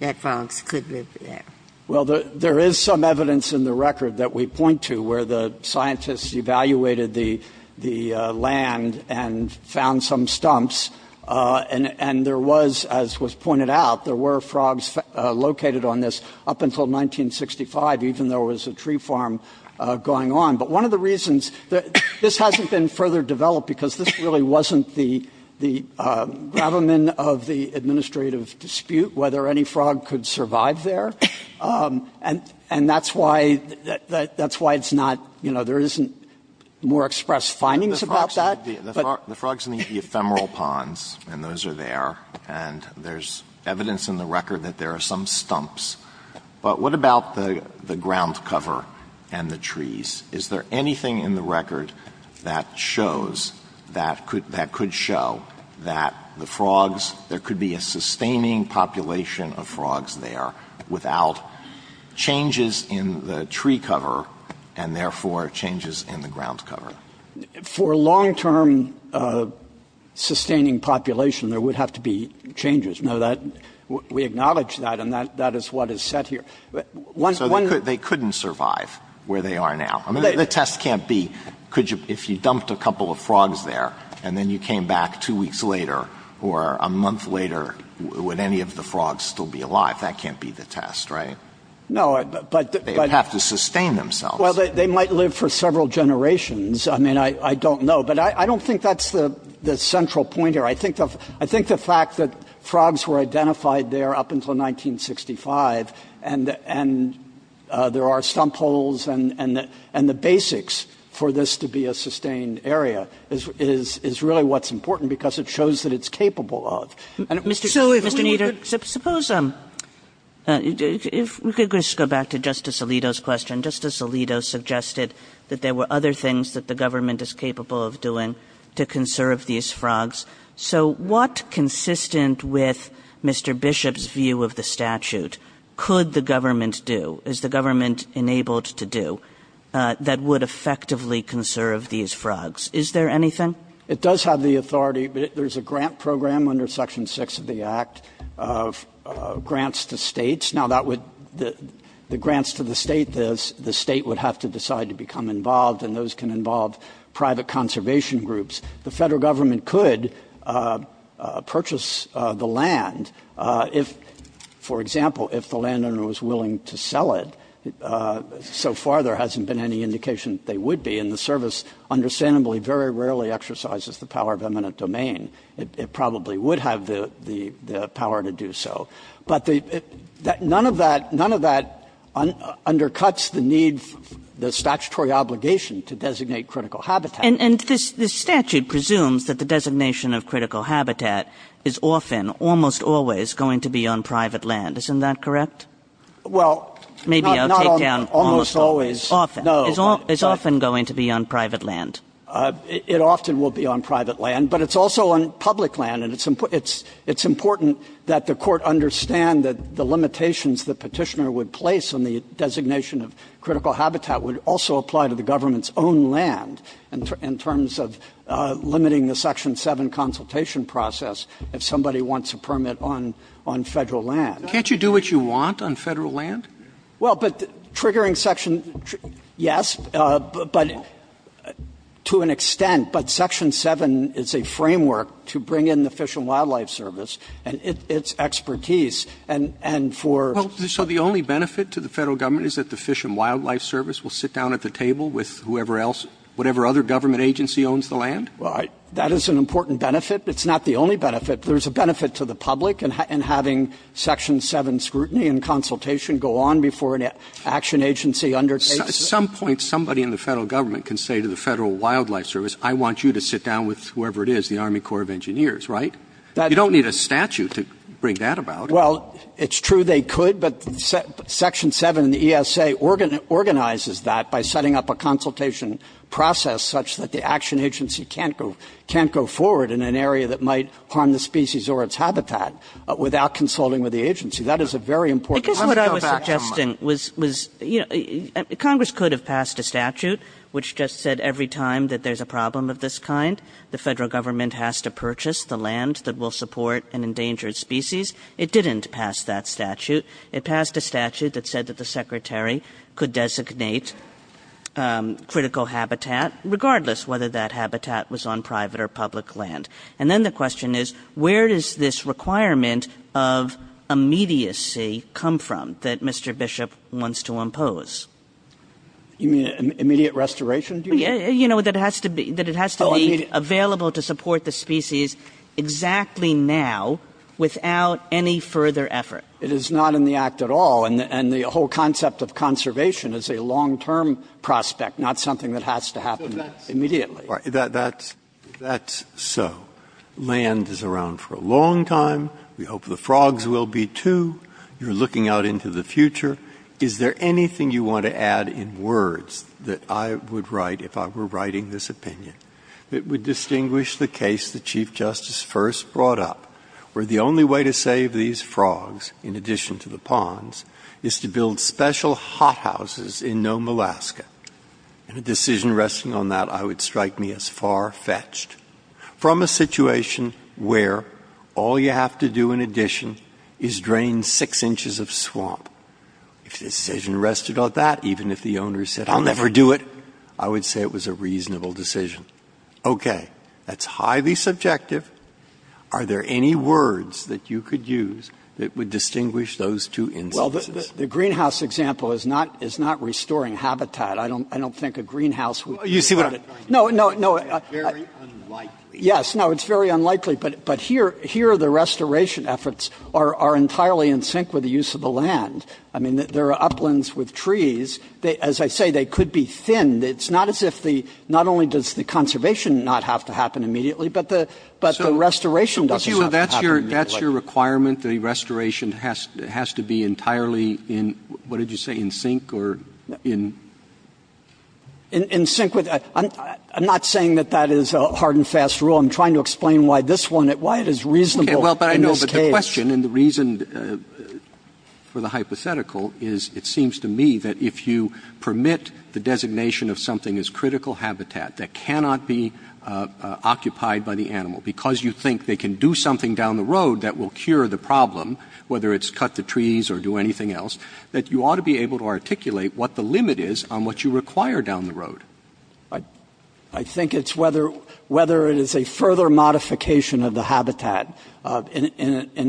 that frogs could live there. Well, there is some evidence in the record that we point to where the scientists evaluated the land and found some stumps. And there was, as was pointed out, there were frogs located on this up until 1965, even though it was a tree farm going on. But one of the reasons — this hasn't been further developed because this really wasn't the gravamen of the administrative dispute, whether any frog could survive there. And that's why it's not — you know, there isn't more expressed findings about that. The frogs need the ephemeral ponds, and those are there. And there's evidence in the record that there are some stumps. But what about the ground cover and the trees? Is there anything in the record that shows — that could show that the frogs — there could be a sustaining population of frogs there without changes in the tree cover and, therefore, changes in the ground cover? For a long-term sustaining population, there would have to be changes. Now, that — we acknowledge that, and that is what is set here. So they couldn't survive where they are now? I mean, the test can't be, could you — if you dumped a couple of frogs there and then you came back two weeks later or a month later, would any of the frogs still be alive? That can't be the test, right? No, but — They'd have to sustain themselves. Well, they might live for several generations. I mean, I don't know. But I don't think that's the central point here. I think the fact that frogs were identified there up until 1965 and there are stump holes and the basics for this to be a sustained area is really what's important because it shows that it's capable of. Mr. Kneedler, suppose — if we could just go back to Justice Alito's question. Justice Alito suggested that there were other things that the government is capable of doing to conserve these frogs. So what, consistent with Mr. Bishop's view of the statute, could the government do, is the government enabled to do, that would effectively conserve these frogs? Is there anything? It does have the authority — there's a grant program under Section 6 of the Act of grants to states. Now, that would — the grants to the state, the state would have to decide to become involved, and those can involve private conservation groups. The Federal Government could purchase the land if, for example, if the landowner was willing to sell it. So far, there hasn't been any indication that they would be, and the Service understandably very rarely exercises the power of eminent domain. It probably would have the power to do so. But none of that — none of that undercuts the need, the statutory obligation to designate critical habitat. And the statute presumes that the designation of critical habitat is often, almost always, going to be on private land. Isn't that correct? Well — Maybe I'll take down — Not almost always. Often. No. It's often going to be on private land. It often will be on private land, but it's also on public land, and it's important that the Court understand that the limitations that Petitioner would place on the designation of critical habitat would also apply to the government's own land in terms of limiting the Section 7 consultation process if somebody wants a permit on — on Federal land. Can't you do what you want on Federal land? Well, but triggering Section — yes, but — to an extent, but Section 7 is a framework to bring in the Fish and Wildlife Service and its expertise, and for — Well, so the only benefit to the Federal Government is that the Fish and Wildlife Service will sit down at the table with whoever else — whatever other government agency owns the land? Well, I — That is an important benefit. It's not the only benefit. There's a benefit to the public in having Section 7 scrutiny and consultation go on before an action agency undertakes it. At some point, somebody in the Federal Government can say to the Federal Wildlife Service, I want you to sit down with whoever it is, the Army Corps of Engineers, right? You don't need a statute to bring that about. Well, it's true they could, but Section 7 in the ESA organizes that by setting up a consultation process such that the action agency can't go — can't go forward in an area that might harm the species or its habitat without consulting with the agency. That is a very important — Because what I was suggesting was — was — you know, Congress could have passed a statute which just said every time that there's a problem of this kind, the Federal Government has to purchase the land that will support an endangered species. It didn't pass that statute. It passed a statute that said that the Secretary could designate critical habitat regardless whether that habitat was on private or public land. And then the question is, where does this requirement of immediacy come from that Mr. Bishop wants to impose? You mean immediate restoration? You know, that it has to be — that it has to be available to support the species exactly now without any further effort. It is not in the act at all. And the whole concept of conservation is a long-term prospect, not something that has to happen immediately. That's — that's so. Land is around for a long time. We hope the frogs will be, too. You're looking out into the future. Is there anything you want to add in words that I would write if I were writing this opinion that would distinguish the case that Chief Justice first brought up, where the only way to save these frogs, in addition to the ponds, is to build special hothouses in Nome, Alaska? And a decision resting on that, I would strike me as far-fetched. From a situation where all you have to do in addition is drain six inches of If the decision rested on that, even if the owner said, I'll never do it, I would say it was a reasonable decision. Okay. That's highly subjective. Are there any words that you could use that would distinguish those two instances? Well, the greenhouse example is not — is not restoring habitat. I don't — I don't think a greenhouse would — Well, you see what I'm — No, no, no. It's very unlikely. Yes. No, it's very unlikely. But here — here, the restoration efforts are entirely in sync with the use of the land. I mean, there are uplands with trees. As I say, they could be thinned. It's not as if the — not only does the conservation not have to happen immediately, but the — but the restoration doesn't have to happen immediately. So that's your — that's your requirement, that the restoration has to be entirely in — what did you say, in sync or in — In sync with — I'm not saying that that is a hard-and-fast rule. I'm trying to explain why this one — why it is reasonable in this case. My question, and the reason for the hypothetical, is it seems to me that if you permit the designation of something as critical habitat that cannot be occupied by the animal because you think they can do something down the road that will cure the problem, whether it's cut the trees or do anything else, that you ought to be able to articulate what the limit is on what you require down the road. I think it's whether — whether it is a further modification of the habitat in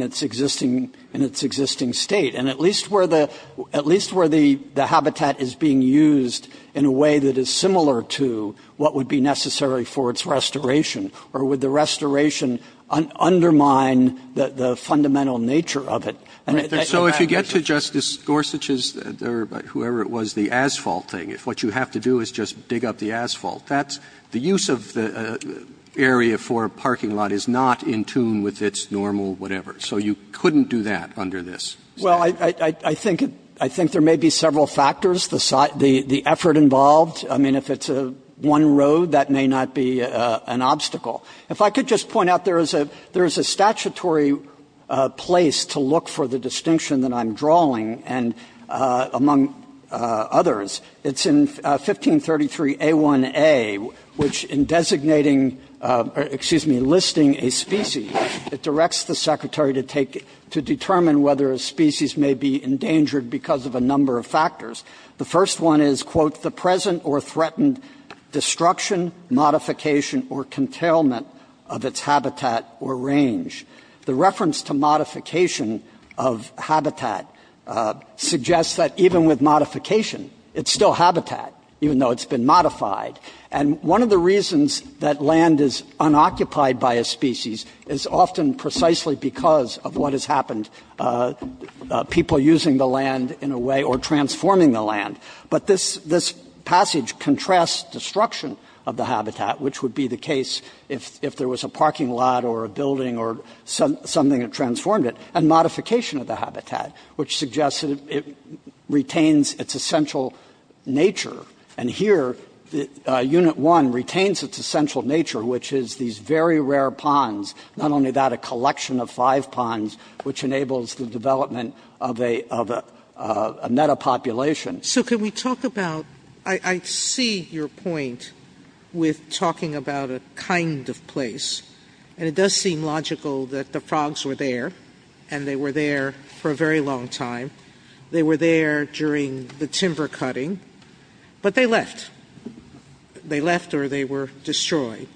its existing — in its existing state. And at least where the — at least where the habitat is being used in a way that is similar to what would be necessary for its restoration, or would the restoration undermine the fundamental nature of it. So if you get to Justice Gorsuch's or whoever it was, the asphalt thing, if what you have to do is just dig up the asphalt, that's — the use of the area for a parking lot is not in tune with its normal whatever. So you couldn't do that under this statute. Well, I think — I think there may be several factors. The — the effort involved, I mean, if it's one road, that may not be an obstacle. If I could just point out, there is a — there is a statutory place to look for the 1533A1A, which in designating — excuse me, listing a species, it directs the Secretary to take — to determine whether a species may be endangered because of a number of factors. The first one is, quote, the present or threatened destruction, modification or containment of its habitat or range. The reference to modification of habitat suggests that even with modification, it's still habitat, even though it's been modified. And one of the reasons that land is unoccupied by a species is often precisely because of what has happened, people using the land in a way or transforming the land. But this — this passage contrasts destruction of the habitat, which would be the case if there was a parking lot or a building or something that transformed it, and modification of the habitat, which suggests that it retains its essential nature. And here, Unit 1 retains its essential nature, which is these very rare ponds, not only that, a collection of five ponds, which enables the development of a — of a metapopulation. Sotomayor So can we talk about — I see your point with talking about a kind of place, and it does seem logical that the frogs were there, and they were there for a very long time. They were there during the timber cutting, but they left. They left or they were destroyed.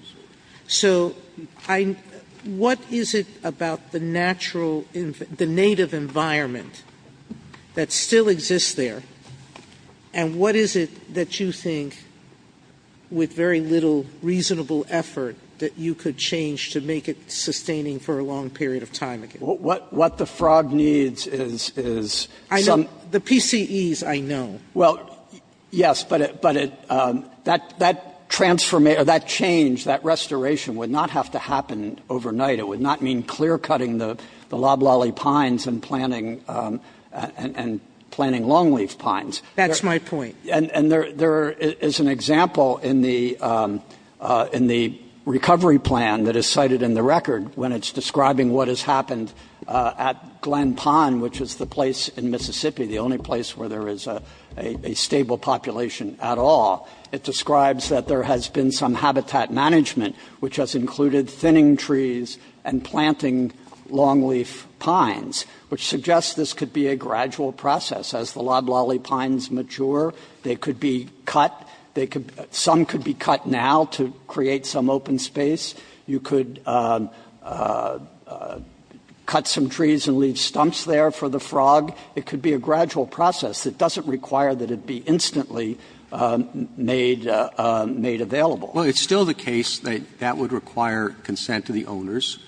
So I — what is it about the natural — the native environment that still exists there, and what is it that you think, with very little reasonable effort, that you could change to make it sustaining for a long period of time again? BIDEN What the frog needs is — SOTOMAYOR I know — the PCEs, I know. BIDEN Well, yes, but it — that transformation — or that change, that restoration would not have to happen overnight. It would not mean clear-cutting the loblolly pines and planting — and planting longleaf pines. SOTOMAYOR That's my point. And there is an example in the — in the recovery plan that is cited in the record when it's describing what has happened at Glen Pond, which is the place in Mississippi, the only place where there is a stable population at all. It describes that there has been some habitat management, which has included thinning trees and planting longleaf pines, which suggests this could be a gradual process. They could be cut. They could — some could be cut now to create some open space. You could cut some trees and leave stumps there for the frog. It could be a gradual process that doesn't require that it be instantly made — made available. BIDEN Well, it's still the case that that would require consent to the owners,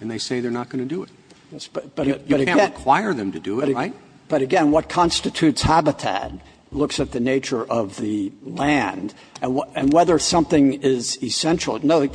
and they say they're not going to do it. You can't require them to do it, right? But again, what constitutes habitat looks at the nature of the land and whether something is essential. No,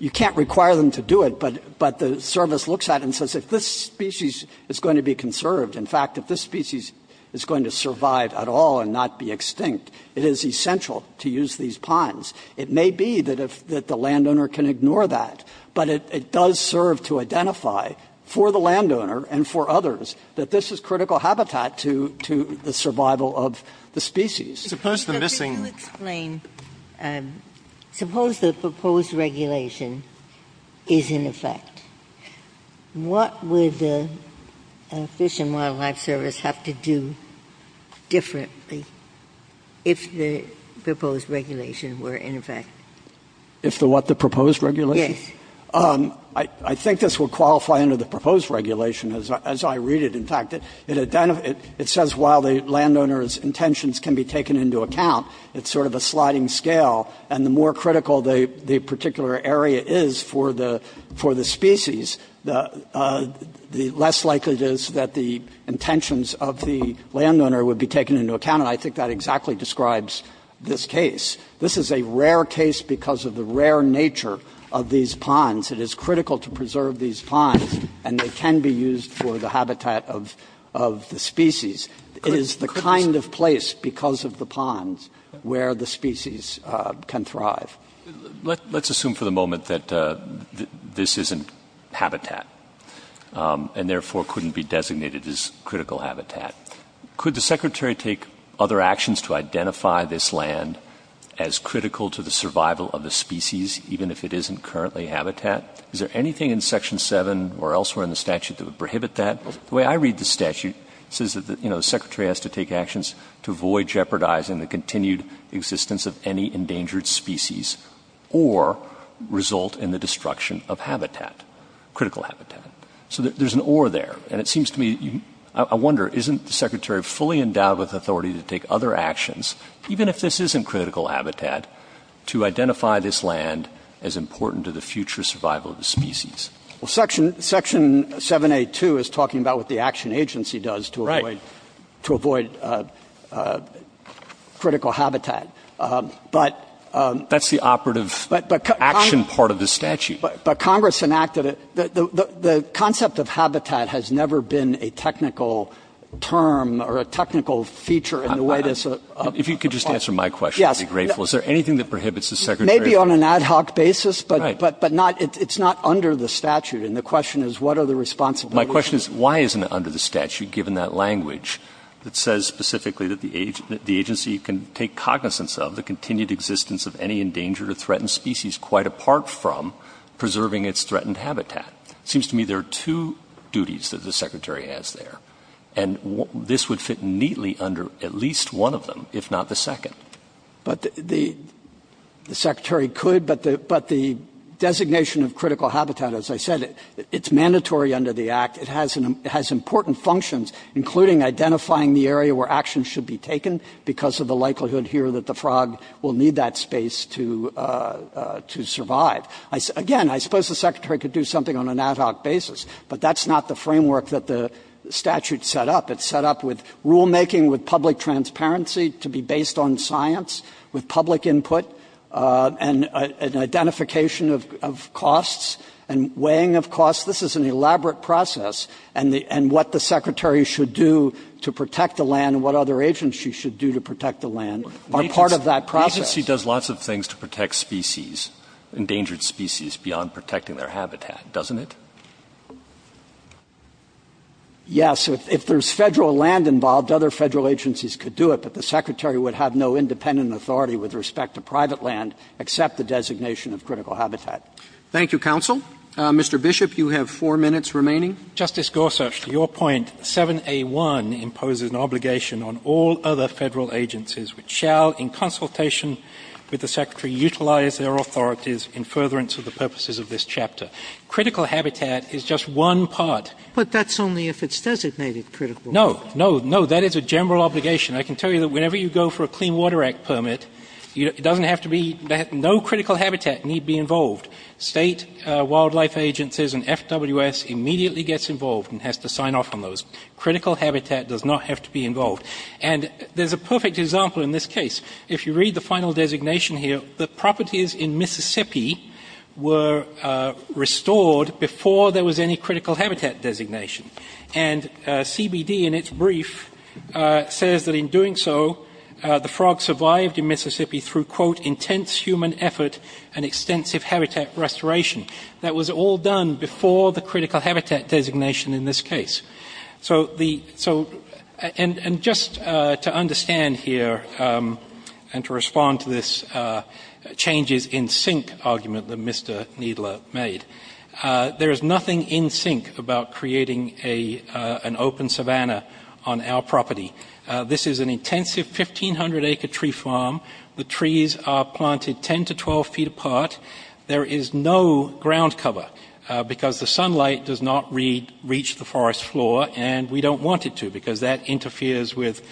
you can't require them to do it, but the service looks at it and says if this species is going to be conserved, in fact, if this species is going to survive at all and not be extinct, it is essential to use these pines. It may be that the landowner can ignore that, but it does serve to identify for the landowner and for others that this is critical habitat to the survival of the species. Sotomayor Suppose the missing — Ginsburg Suppose the proposed regulation is in effect. What would the Fish and Wildlife Service have to do differently if the proposed regulation were in effect? BIDEN If the what? The proposed regulation? Ginsburg Yes. BIDEN I think this would qualify under the proposed regulation, as I read it. In fact, it identifies — it says while the landowner's intentions can be taken into account, it's sort of a sliding scale, and the more critical the particular area is for the species, the less likely it is that the intentions of the landowner would be taken into account, and I think that exactly describes this case. This is a rare case because of the rare nature of these ponds. It is critical to preserve these ponds, and they can be used for the habitat of the species. It is the kind of place, because of the ponds, where the species can thrive. BROKAW Let's assume for the moment that this isn't habitat, and therefore couldn't be designated as critical habitat. Could the Secretary take other actions to identify this land as critical to the survival of the species, even if it isn't currently habitat? Is there anything in Section 7 or elsewhere in the statute that would prohibit that? The way I read the statute, it says that, you know, the Secretary has to take actions to avoid jeopardizing the continued existence of any endangered species or result in the destruction of habitat, critical habitat. So there's an oar there, and it seems to me, I wonder, isn't the Secretary fully endowed with authority to take other actions, even if this isn't critical habitat, to identify this land as important to the future survival of the species? WARREN BUFFETT Well, Section 7A.2 is talking about what the Action Agency does to avoid critical habitat, but BROKAW That's the operative action part of the statute. WARREN BUFFETT But Congress enacted it. The concept of habitat has never been a technical term or a technical feature in the way this... BROKAW If you could just answer my question, I'd be grateful. Is there anything that prohibits the Secretary... WARREN BUFFETT Maybe on an ad hoc basis, but it's not under the statute, and the question is, what are the responsibilities... BROKAW My question is, why isn't it under the statute, given that language that says specifically that the agency can take cognizance of the continued existence of any endangered or threatened species quite apart from preserving its threatened habitat? It seems to me there are two duties that the Secretary has there, and this would fit neatly under at least one of them, if not the second. WARREN BUFFETT The Secretary could, but the designation of critical habitat, as I said, it's mandatory under the Act. It has important functions, including identifying the area where actions should be taken because of the likelihood here that the frog will need that space to survive. Again, I suppose the Secretary could do something on an ad hoc basis, but that's not the framework that the statute set up. It's set up with rulemaking, with public transparency, to be based on science, with public input, and identification of costs and weighing of costs. This is an elaborate process, and what the Secretary should do to protect the land and what other agencies should do to protect the land are part of that process. The agency does lots of things to protect species, endangered species, beyond protecting their habitat, doesn't it? WARREN BUFFETT Yes. If there's Federal land involved, other Federal agencies could do it, but the Secretary would have no independent authority with respect to private land except the designation of critical habitat. Roberts. Thank you, counsel. Mr. Bishop, you have four minutes remaining. BISHOP. Justice Gorsuch, to your point, 7A1 imposes an obligation on all other Federal agencies which shall, in consultation with the Secretary, utilize their authorities in furtherance of the purposes of this chapter. Critical habitat is just one part. SOTOMAYOR But that's only if it's designated critical. BISHOP. No. No. No. That is a general obligation. I can tell you that whenever you go for a Clean Water Act permit, it doesn't have to be no critical habitat need be involved. State wildlife agencies and FWS immediately gets involved and has to sign off on those. Critical habitat does not have to be involved. And there's a perfect example in this case. If you read the final designation here, the properties in Mississippi were restored before there was any critical habitat designation. And CBD in its brief says that in doing so, the frog survived in Mississippi through, quote, intense human effort and extensive habitat restoration. That was all done before the critical habitat designation in this case. So the so and just to understand here and to respond to this changes in sink argument that Mr. Needler made, there is nothing in sink about creating an open savanna on our property. This is an intensive 1,500-acre tree farm. The trees are planted 10 to 12 feet apart. There is no ground cover because the sunlight does not reach the forest floor and we don't want it to because that interferes with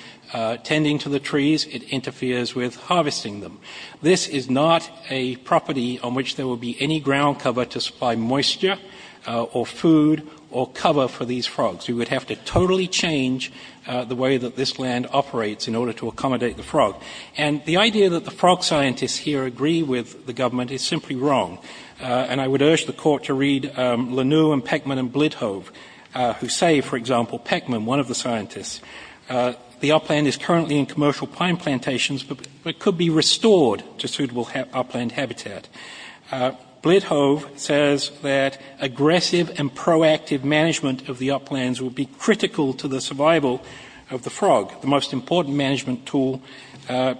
tending to the trees. It interferes with harvesting them. This is not a property on which there will be any ground cover to supply moisture or food or cover for these frogs. We would have to totally change the way that this land operates in order to accommodate the frog. And the idea that the frog scientists here agree with the government is simply wrong. And I would urge the court to read Lenu and Peckman and Blithove who say, for example, Peckman, one of the scientists, the upland is currently in commercial pine plantations but could be restored to suitable upland habitat. Blithove says that aggressive and proactive management of the uplands will be critical to the survival of the frog. The most important management tool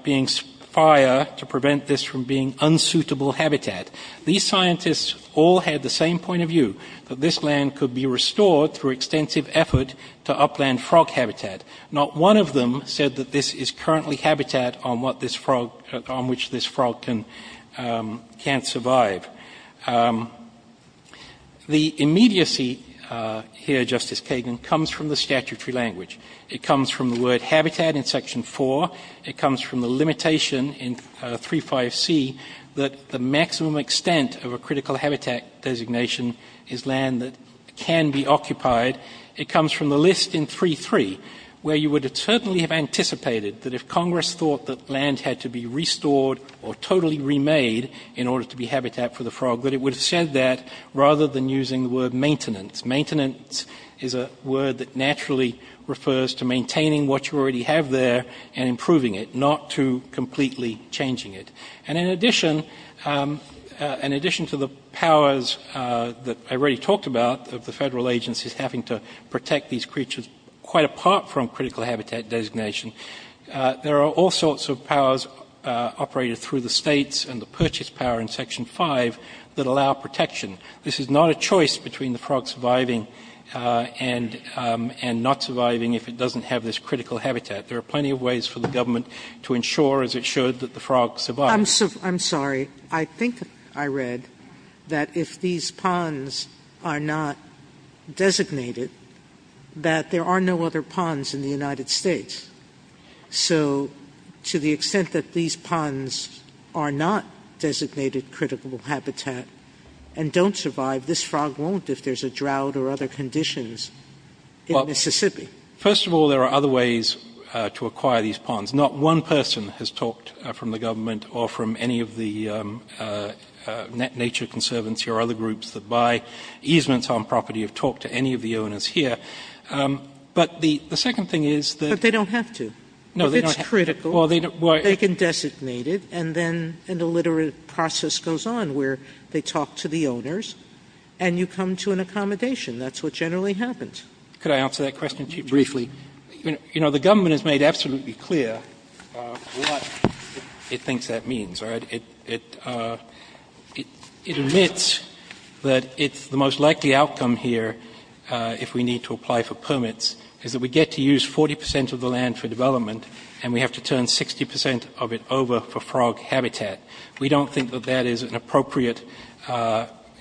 being fire to prevent this from being unsuitable habitat. These scientists all had the same point of view, that this land could be restored through extensive effort to upland frog habitat. Not one of them said that this is currently habitat on what this frog, on which this frog can't survive. The immediacy here, Justice Kagan, comes from the statutory language. It comes from the word habitat in Section 4. It comes from the limitation in 3.5c that the maximum extent of a critical habitat designation is land that can be occupied. It comes from the list in 3.3, where you would certainly have anticipated that if Congress thought that land had to be restored or totally remade in order to be habitat for the frog, that it would have said that rather than using the word maintenance. Maintenance is a word that naturally refers to maintaining what you already have there and improving it, not to completely changing it. And in addition to the powers that I already talked about of the federal agencies having to protect these creatures quite apart from critical habitat designation, there are all sorts of powers operated through the states and the purchase power in Section 5 that allow protection. This is not a choice between the frog surviving and not surviving if it is critical habitat. There are plenty of ways for the government to ensure, as it should, that the frog survives. I'm sorry. I think I read that if these ponds are not designated, that there are no other ponds in the United States. So to the extent that these ponds are not designated critical habitat and don't survive, this frog won't if there's a drought or other conditions in Mississippi. First of all, there are other ways to acquire these ponds. Not one person has talked from the government or from any of the Nature Conservancy or other groups that buy easements on property have talked to any of the owners here. But the second thing is that they don't have to. If it's critical, they can designate it and then an illiterate process goes on where they talk to the owners and you come to an accommodation. That's what generally happens. Could I answer that question briefly? The government has made absolutely clear what it thinks that means. It admits that the most likely outcome here, if we need to apply for permits, is that we get to use 40 percent of the land for development and we have to turn 60 percent of it over for frog habitat. We don't think that that is an appropriate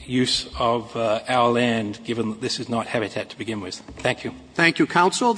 use of our land, given that this is not what we're dealing with. Thank you. Thank you, counsel.